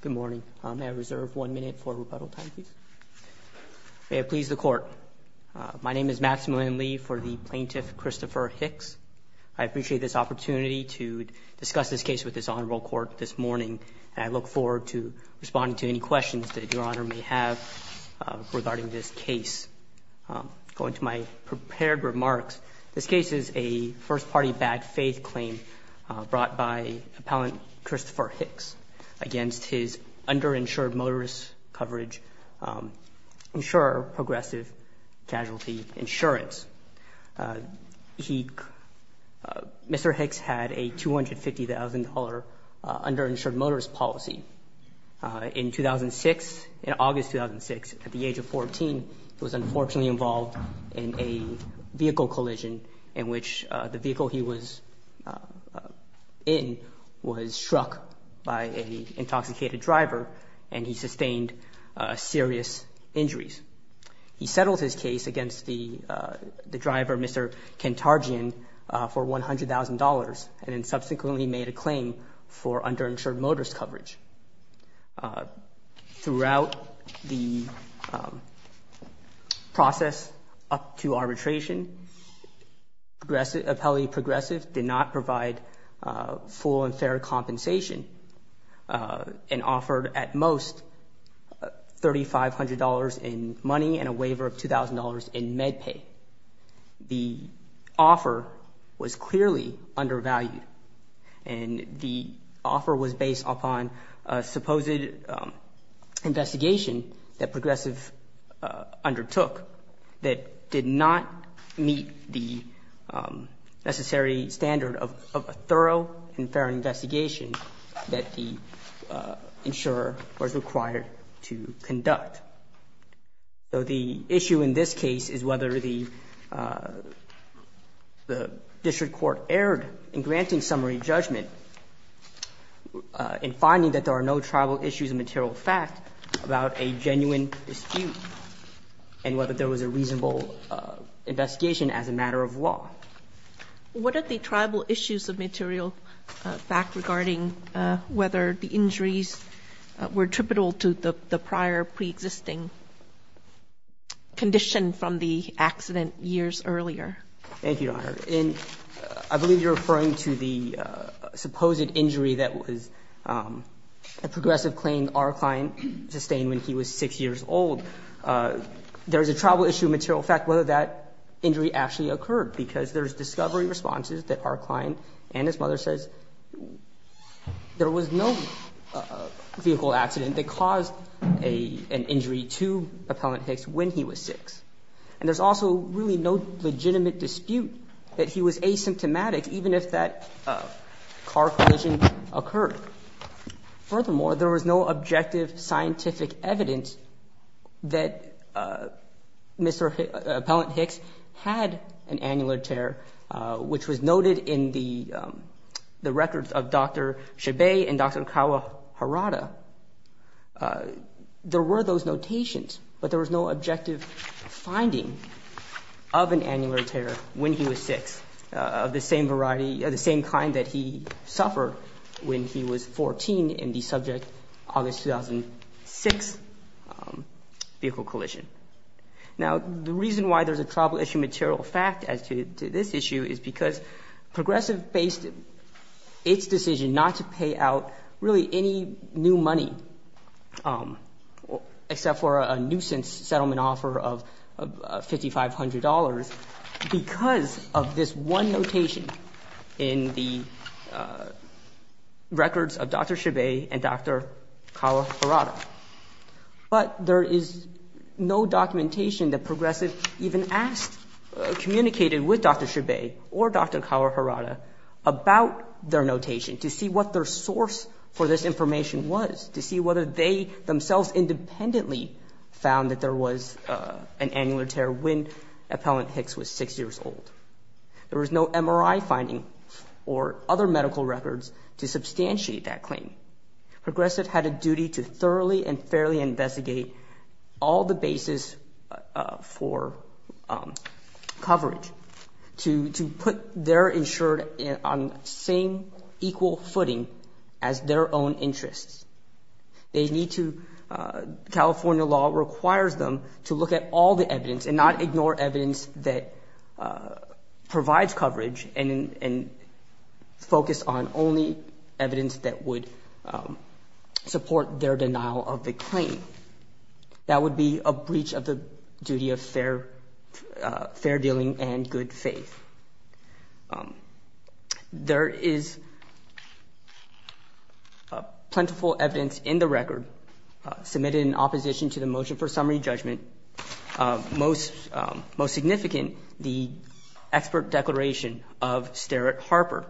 Good morning. May I reserve one minute for rebuttal time, please? May it please the Court, my name is Maximillian Lee for the Plaintiff Christopher Hicks. I appreciate this opportunity to discuss this case with this Honorable Court this morning. I look forward to responding to any questions that Your Honor may have regarding this case. Going to my prepared remarks, this case is a first-party bad faith claim brought by Appellant Christopher Hicks against his underinsured motorist coverage insurer, Progressive Casualty Insurance. Mr. Hicks had a $250,000 underinsured motorist policy. In 2006, in August 2006, at the age of 14, he was unfortunately involved in a vehicle collision in which the vehicle he was in was struck by an intoxicated driver and he sustained serious injuries. He settled his case against the driver, Mr. Kentarjian, for $100,000 and subsequently made a claim for underinsured motorist coverage. Throughout the process up to arbitration, Appellant Progressive did not provide full and fair compensation and offered at most $3,500 in money and a waiver of $2,000 in med pay. The offer was clearly undervalued and the offer was based upon a supposed investigation that Progressive undertook that did not meet the necessary standard of a thorough and fair investigation that the insurer was required to conduct. So the issue in this case is whether the district court erred in granting summary judgment in finding that there are no tribal issues of material fact about a genuine dispute and whether there was a reasonable investigation as a matter of law. What are the tribal issues of material fact regarding whether the injuries were tributal to the prior preexisting condition from the accident years earlier? Thank you, Your Honor. And I believe you're referring to the supposed injury that was a Progressive claim our client sustained when he was 6 years old. There is a tribal issue of material fact whether that injury actually occurred because there's discovery responses that our client and his mother says there was no vehicle accident that caused an injury to Appellant Hicks when he was 6. And there's also really no legitimate dispute that he was asymptomatic even if that car collision occurred. Furthermore, there was no objective scientific evidence that Mr. Appellant Hicks had an annular tear, which was noted in the records of Dr. Chabais and Dr. Nkaua Harada. There were those notations, but there was no objective finding of an annular tear when he was 6 of the same kind that he suffered when he was 14 in the subject August 2006 vehicle collision. Now, the reason why there's a tribal issue of material fact as to this issue is because Progressive based its decision not to pay out really any new money except for a nuisance settlement offer of $5,500 because of this one notation in the records of Dr. Chabais and Dr. Nkaua Harada. But there is no documentation that Progressive even asked, communicated with Dr. Chabais or Dr. Nkaua Harada about their notation to see what their source for this information was, to see whether they themselves independently found that there was an annular tear when Appellant Hicks was 6 years old. There was no MRI finding or other medical records to substantiate that claim. Progressive had a duty to thoroughly and fairly investigate all the bases for coverage to put their insured on the same equal footing as their own interests. They need to, California law requires them to look at all the evidence and not ignore evidence that provides coverage and focus on only evidence that would support their denial of the claim. That would be a breach of the duty of fair dealing and good faith. There is plentiful evidence in the record submitted in opposition to the motion for summary judgment. Most significant, the expert declaration of Sterritt Harper.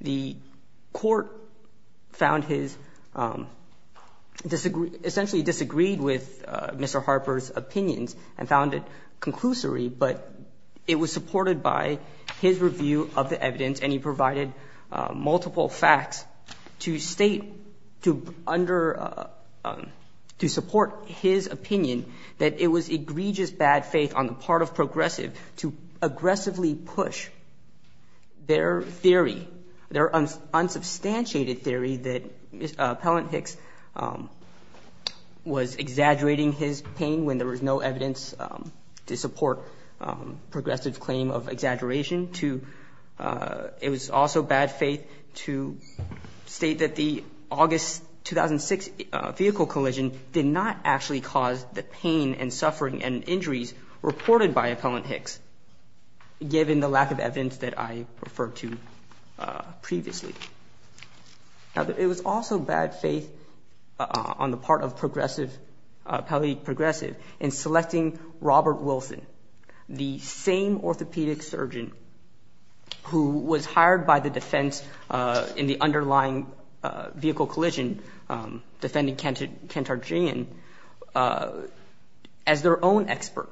The Court found his — essentially disagreed with Mr. Harper's opinions and found it conclusory, but it was supported by his review of the evidence and he provided multiple facts to state to under — to support his opinion that it was egregious bad faith on the part of Progressive to aggressively push their theory, their unsubstantiated theory that Appellant Hicks was exaggerating his pain when there was no evidence to support Progressive's claim of exaggeration. It was also bad faith to state that the August 2006 vehicle collision did not actually cause the pain and suffering and injuries reported by Appellant Hicks, given the lack of evidence that I referred to previously. It was also bad faith on the part of Progressive, Appellate Progressive, in selecting Robert Wilson, the same orthopedic surgeon who was hired by the defense in the underlying vehicle collision, defending Kent Arginian, as their own expert.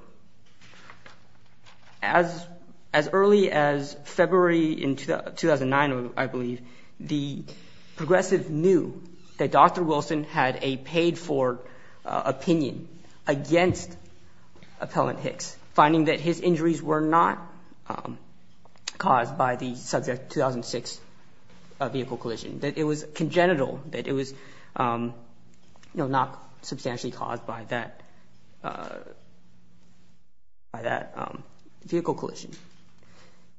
As early as February in 2009, I believe, the Progressive knew that Dr. Wilson had a paid-for opinion against Appellant Hicks, finding that his injuries were not caused by the subject 2006 vehicle collision, that it was congenital, that it was not substantially caused by that vehicle collision.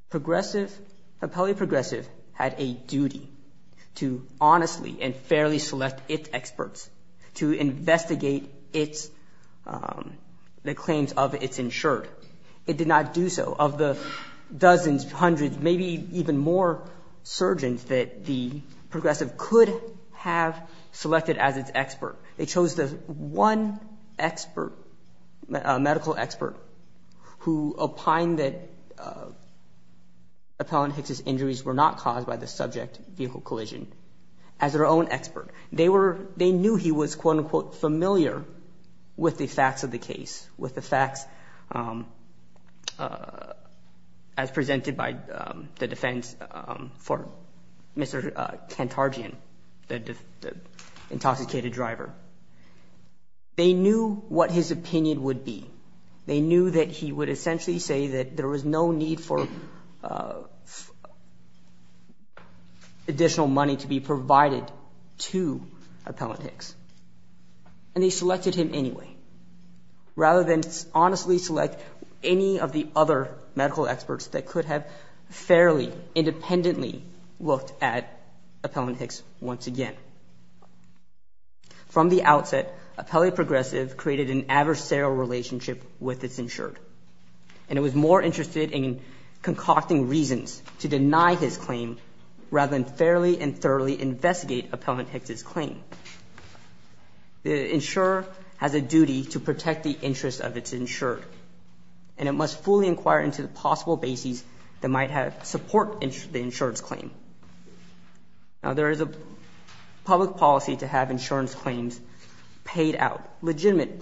Progressive, Appellate Progressive, had a duty to honestly and fairly select its experts to investigate the claims of its insured. It did not do so. Of the dozens, hundreds, maybe even more surgeons that the Progressive could have selected as its expert, they chose the one expert, a medical expert, who opined that Appellant Hicks' injuries were not caused by the subject vehicle collision, as their own expert. They knew he was, quote-unquote, familiar with the facts of the case, with the facts as presented by the defense for Mr. Kent Arginian, the intoxicated driver. They knew what his opinion would be. They knew that he would essentially say that there was no need for additional money to be provided to Appellant Hicks. And they selected him anyway, rather than honestly select any of the other medical experts that could have fairly independently looked at Appellant Hicks once again. From the outset, Appellate Progressive created an adversarial relationship with its insured, and it was more interested in concocting reasons to deny his claim rather than fairly and thoroughly investigate Appellant Hicks' claim. The insurer has a duty to protect the interests of its insured, and it must fully inquire into the possible bases that might support the insured's claim. Now, there is a public policy to have insurance claims paid out, legitimate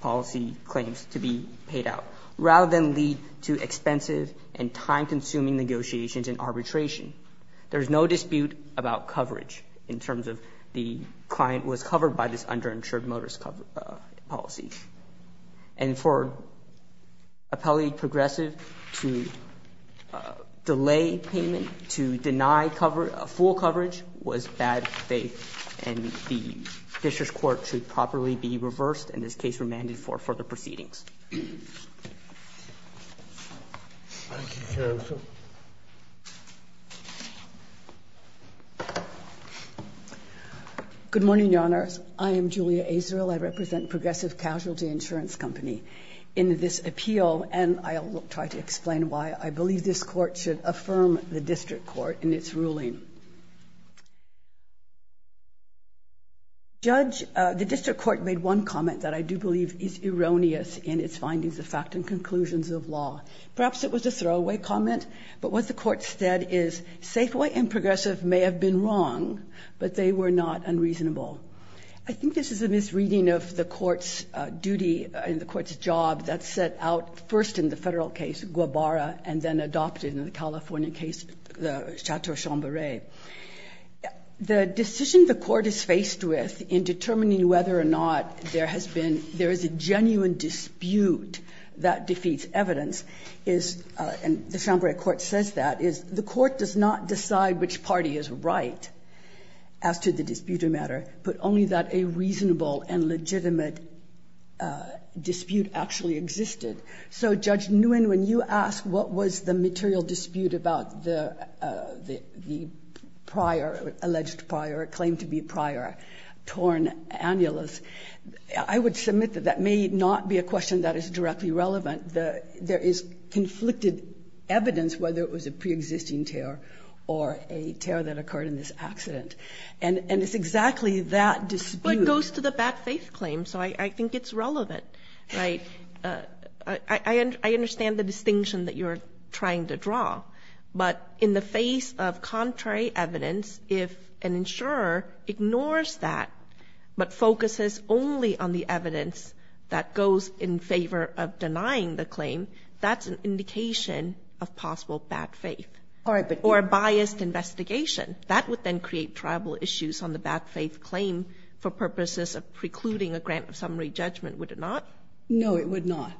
policy claims to be paid out, rather than lead to expensive and time-consuming negotiations and arbitration. There is no dispute about coverage in terms of the client was covered by this underinsured motorist policy. And for Appellate Progressive to delay payment, to deny full coverage, was bad faith, and the district court should properly be reversed, and this case remanded for further proceedings. Thank you, counsel. Good morning, Your Honors. I am Julia Azarill. I represent Progressive Casualty Insurance Company in this appeal, and I will try to explain why I believe this court should affirm the district court in its ruling. Judge, the district court made one comment that I do believe is erroneous in its findings of fact and conclusions of law. Perhaps it was a throwaway comment, but what the court said is, Safeway and Progressive may have been wrong, but they were not unreasonable. I think this is a misreading of the court's duty and the court's job that's set out first in the Federal case, Guabara, and then adopted in the California case, the Chateau Chambray. The decision the court is faced with in determining whether or not there has been there is a genuine dispute that defeats evidence is, and the Chambray court says that, is the court does not decide which party is right as to the disputed matter, but only that a reasonable and legitimate dispute actually existed. So, Judge Nguyen, when you ask what was the material dispute about the prior, alleged prior, claimed to be prior torn annulus, I would submit that that may not be a question that is directly relevant. There is conflicted evidence whether it was a preexisting tear or a tear that occurred in this accident, and it's exactly that dispute. But it goes to the bad faith claim, so I think it's relevant, right? I understand the distinction that you're trying to draw, but in the face of contrary evidence, if an insurer ignores that, but focuses only on the evidence that goes in favor of denying the claim, that's an indication of possible bad faith. Or a biased investigation. That would then create tribal issues on the bad faith claim for purposes of precluding a grant of summary judgment, would it not? No, it would not.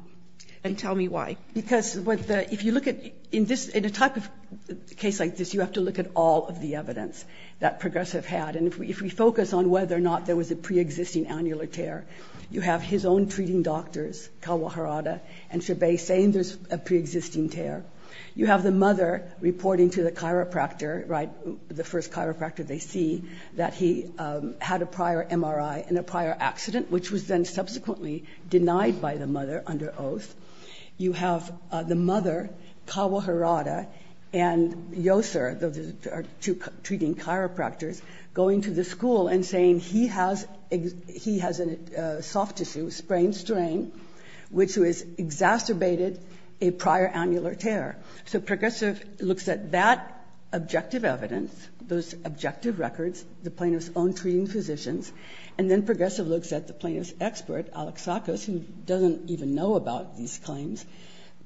And tell me why. Because if you look at, in a type of case like this, you have to look at all of the evidence that Progressive had. And if we focus on whether or not there was a preexisting annular tear, you have his own treating doctors, Kawaharada and Chabay, saying there's a preexisting tear. You have the mother reporting to the chiropractor, right, the first chiropractor they see, that he had a prior MRI in a prior accident, which was then subsequently denied by the mother under oath. You have the mother, Kawaharada, and Yoser, those are two treating chiropractors, going to the school and saying he has a soft tissue, sprained strain, which was exacerbated by a prior annular tear. So Progressive looks at that objective evidence, those objective records, the plaintiff's own treating physicians, and then Progressive looks at the plaintiff's expert, Alexakis, who doesn't even know about these claims.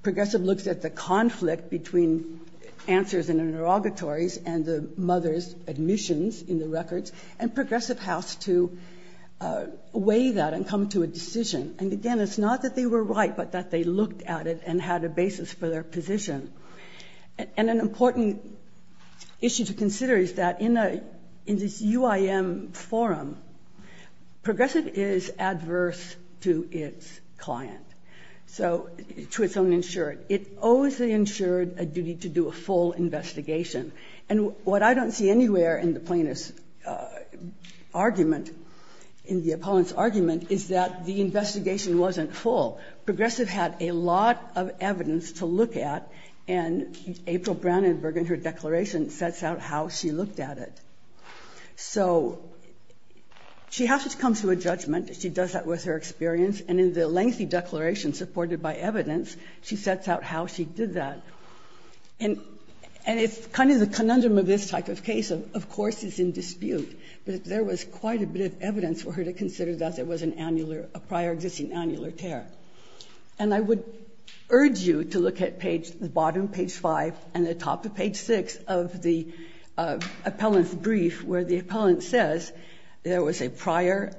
Progressive looks at the conflict between answers in interrogatories and the mother's admissions in the records, and Progressive has to weigh that and come to a decision. And again, it's not that they were right, but that they looked at it and had a basis for their position. And an important issue to consider is that in this UIM forum, Progressive is adverse to its client, so to its own insured. It owes the insured a duty to do a full investigation. And what I don't see anywhere in the plaintiff's argument, in the opponent's argument, is that the investigation wasn't full. Progressive had a lot of evidence to look at, and April Brownenberg in her declaration sets out how she looked at it. So she has to come to a judgment. She does that with her experience, and in the lengthy declaration supported by evidence, she sets out how she did that. And it's kind of the conundrum of this type of case. Of course, it's in dispute, but there was quite a bit of evidence for her to consider that there was an annular, a prior existing annular tear. And I would urge you to look at page the bottom, page 5, and the top of page 6 of the appellant's brief, where the appellant says there was a prior,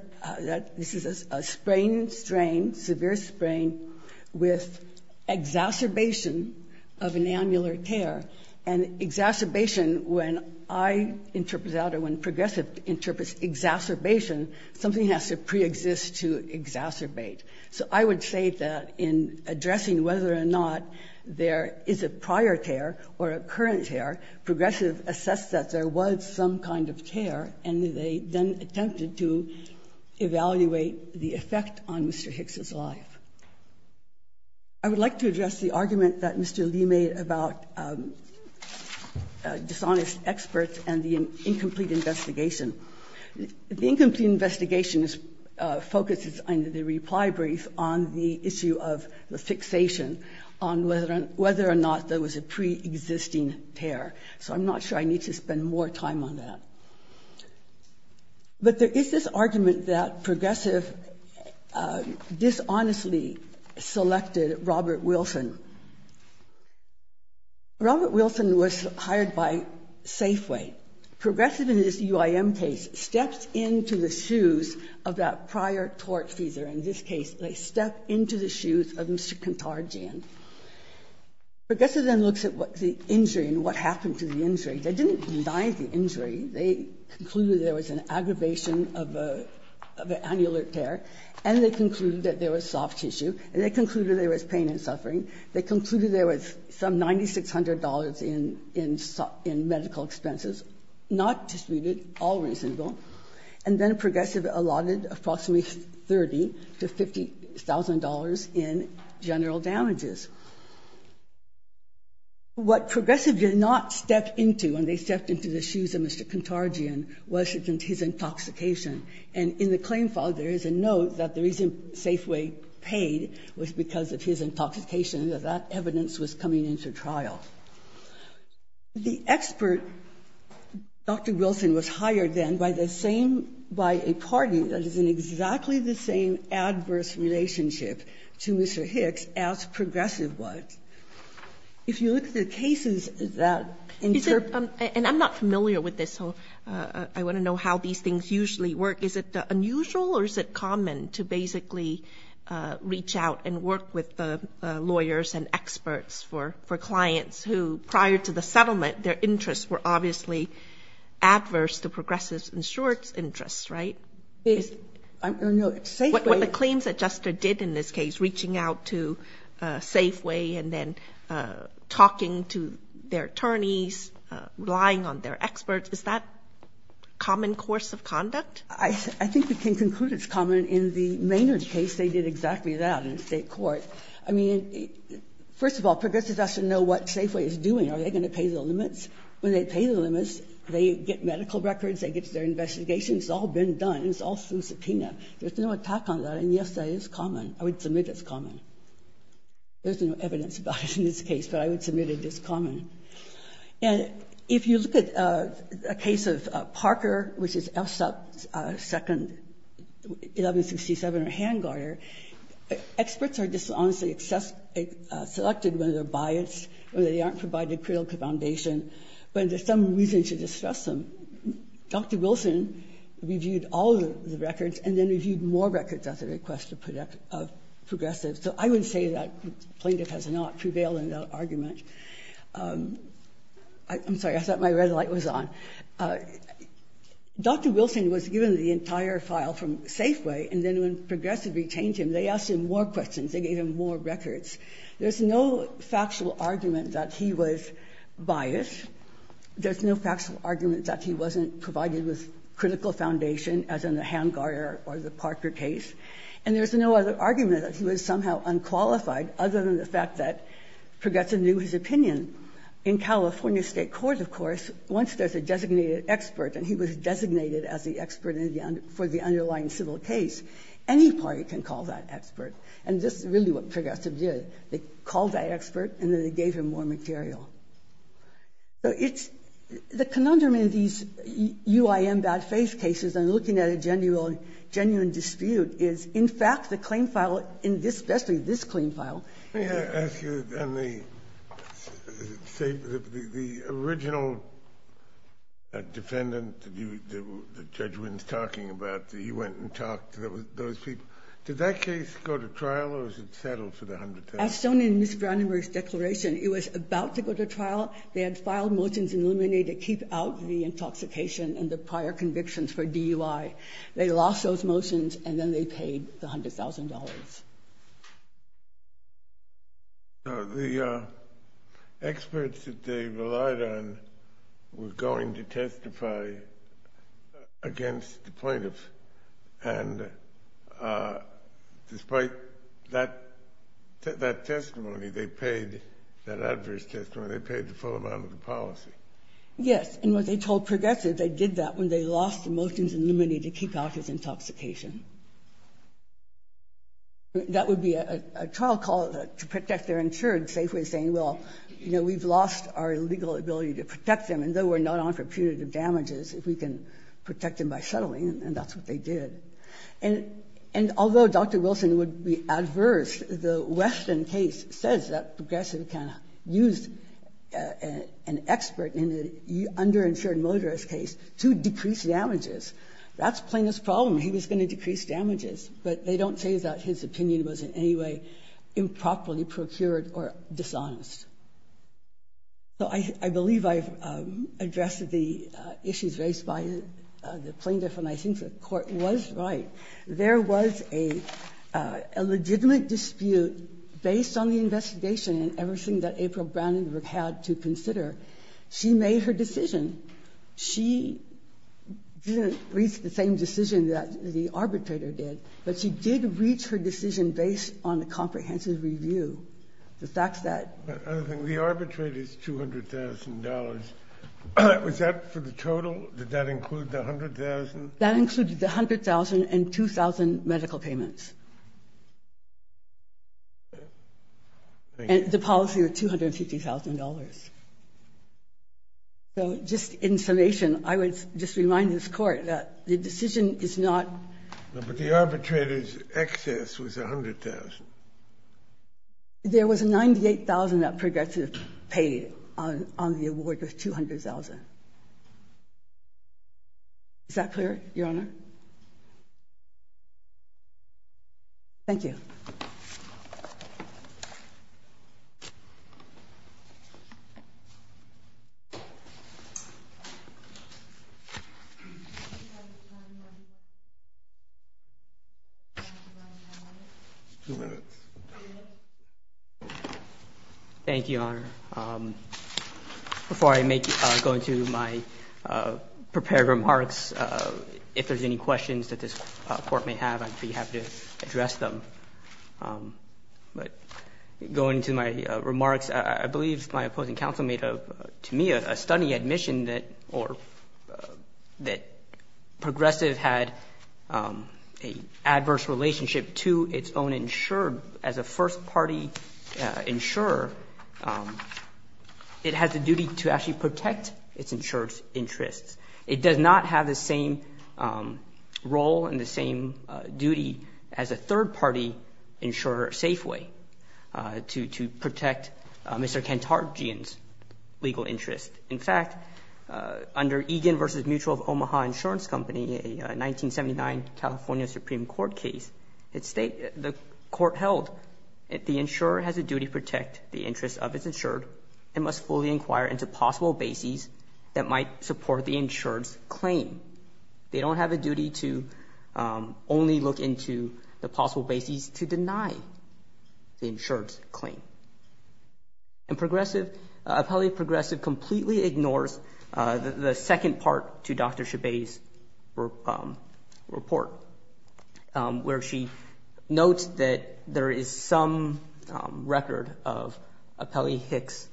this is a sprain, strain, severe sprain with exacerbation of an annular tear. And exacerbation, when I interpret that or when Progressive interprets exacerbation, something has to preexist to exacerbate. So I would say that in addressing whether or not there is a prior tear or a current tear, Progressive assessed that there was some kind of tear, and they then attempted to evaluate the effect on Mr. Hicks's life. I would like to address the argument that Mr. Lee made about dishonest experts and the incomplete investigation. The incomplete investigation focuses on the reply brief on the issue of the fixation on whether or not there was a preexisting tear. So I'm not sure I need to spend more time on that. But there is this argument that Progressive dishonestly selected Robert Wilson. Robert Wilson was hired by Safeway. Progressive, in this UIM case, steps into the shoes of that prior tortfeasor. In this case, they step into the shoes of Mr. Kentarjan. Progressive then looks at what the injury and what happened to the injury. They didn't deny the injury. They concluded there was an aggravation of an annular tear, and they concluded that there was soft tissue, and they concluded there was pain and suffering. They concluded there was some $9,600 in medical expenses, not disputed, all reasonable. And then Progressive allotted approximately $30,000 to $50,000 in general damages. What Progressive did not step into when they stepped into the shoes of Mr. Kentarjan was his intoxication. And in the claim file, there is a note that the reason Safeway paid was because of his intoxication, that that evidence was coming into trial. The expert, Dr. Wilson, was hired then by the same by a party that is in exactly the same adverse relationship to Mr. Hicks as Progressive was. If you look at the cases that interpreted. And I'm not familiar with this, so I want to know how these things usually work. Is it unusual or is it common to basically reach out and work with the lawyers and experts for clients who, prior to the settlement, their interests were obviously adverse to Progressive's insurance interests, right? What the claims adjuster did in this case, reaching out to Safeway and then talking to their attorneys, relying on their experts, is that common course of conduct? I think we can conclude it's common in the Maynard case. They did exactly that in the State court. I mean, first of all, Progressive has to know what Safeway is doing. Are they going to pay the limits? When they pay the limits, they get medical records, they get their investigations. It's all been done. It's all through subpoena. There's no attack on that, and yes, that is common. I would submit it's common. There's no evidence about it in this case, but I would submit it is common. And if you look at a case of Parker, which is FSUP 2nd, 1167, or Hangarter, experts are dishonestly selected whether they're biased or they aren't provided critical foundation, but there's some reason to distrust them. Dr. Wilson reviewed all of the records and then reviewed more records at the request of Progressive. So I would say that Plaintiff has not prevailed in that argument. I'm sorry, I thought my red light was on. Dr. Wilson was given the entire file from Safeway, and then when Progressive retained him, they asked him more questions. They gave him more records. There's no factual argument that he was biased. There's no factual argument that he wasn't provided with critical foundation, as in the Hangarter or the Parker case. And there's no other argument that he was somehow unqualified other than the fact that Progressive knew his opinion. In California State courts, of course, once there's a designated expert and he was designated as the expert for the underlying civil case, any party can call that expert. And this is really what Progressive did. They called that expert and then they gave him more material. So it's the conundrum in these UIM bad faith cases and looking at a genuine dispute is, in fact, the claim file, especially this claim file. Kennedy. And the original defendant that Judge Wynn's talking about, he went and talked to those people. Did that case go to trial or was it settled for the $100,000? As shown in Ms. Brown and Murray's declaration, it was about to go to trial. They had filed motions in Luminae to keep out the intoxication and the prior convictions for DUI. They lost those motions and then they paid the $100,000. The experts that they relied on were going to testify against the plaintiffs. And despite that testimony, they paid, that adverse testimony, they paid the full amount of the policy. Yes. And what they told Progressive, they did that when they lost the motions in Luminae to keep out his intoxication. That would be a trial call to protect their insured safely saying, well, you know, we've lost our legal ability to protect them. And though we're not on for punitive damages, if we can protect them by settling and that's what they did. And although Dr. Wilson would be adverse, the Weston case says that Progressive kind of used an expert in the underinsured motorist case to decrease damages. That's Plaintiff's problem. He was going to decrease damages. But they don't say that his opinion was in any way improperly procured or dishonest. So I believe I've addressed the issues raised by the plaintiff, and I think the Court was right. There was a legitimate dispute based on the investigation and everything that April Brandenburg had to consider. She made her decision. She didn't reach the same decision that the arbitrator did, but she did reach her decision based on a comprehensive review. The fact that the arbitrator's $200,000, was that for the total? Did that include the $100,000? That included the $100,000 and $2,000 medical payments. And the policy was $250,000. So just in summation, I would just remind this Court that the decision is not But the arbitrator's excess was $100,000. There was $98,000 that Progressive paid on the award of $200,000. Is that clear? Your Honor? Thank you. Before I go into my prepared remarks, if there's any questions that this Court may have, I'd be happy to address them. But going to my remarks, I believe my opposing counsel made, to me, a stunning admission that Progressive had an adverse relationship to its own insurer, as a first party insurer, it has a duty to actually protect its insurer's interests. It does not have the same role and the same duty as a third party insurer, Safeway, to protect Mr. Kantarjian's legal interests. In fact, under Egan v. Mutual of Omaha Insurance Company, a 1979 California Supreme Court case, the Court held that the insurer has a duty to protect the interests of its insured and must fully inquire into possible bases that might support the insured's claim. They don't have a duty to only look into the possible bases to deny the insured's claim. And Progressive, Appellee Progressive completely ignores the second part to Dr. Chabais' report, where she notes that there is some record of Appellant Hicks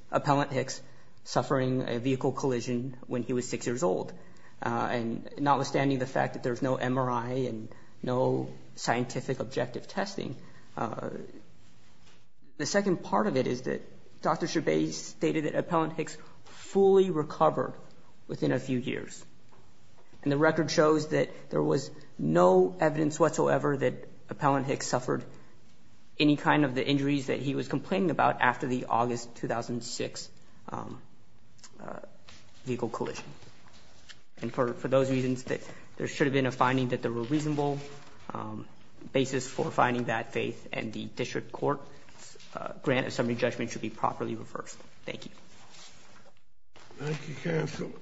suffering a vehicle collision when he was six years old. And notwithstanding the fact that there's no MRI and no scientific objective testing, the second part of it is that Dr. Chabais stated that Appellant Hicks fully recovered within a few years. And the record shows that there was no evidence whatsoever that Appellant Hicks suffered any kind of the injuries that he was complaining about after the August 2006 vehicle collision. And for those reasons, there should have been a finding that there were reasonable bases for finding that faith. And the district court's grant assembly judgment should be properly reversed. Thank you. Thank you, counsel.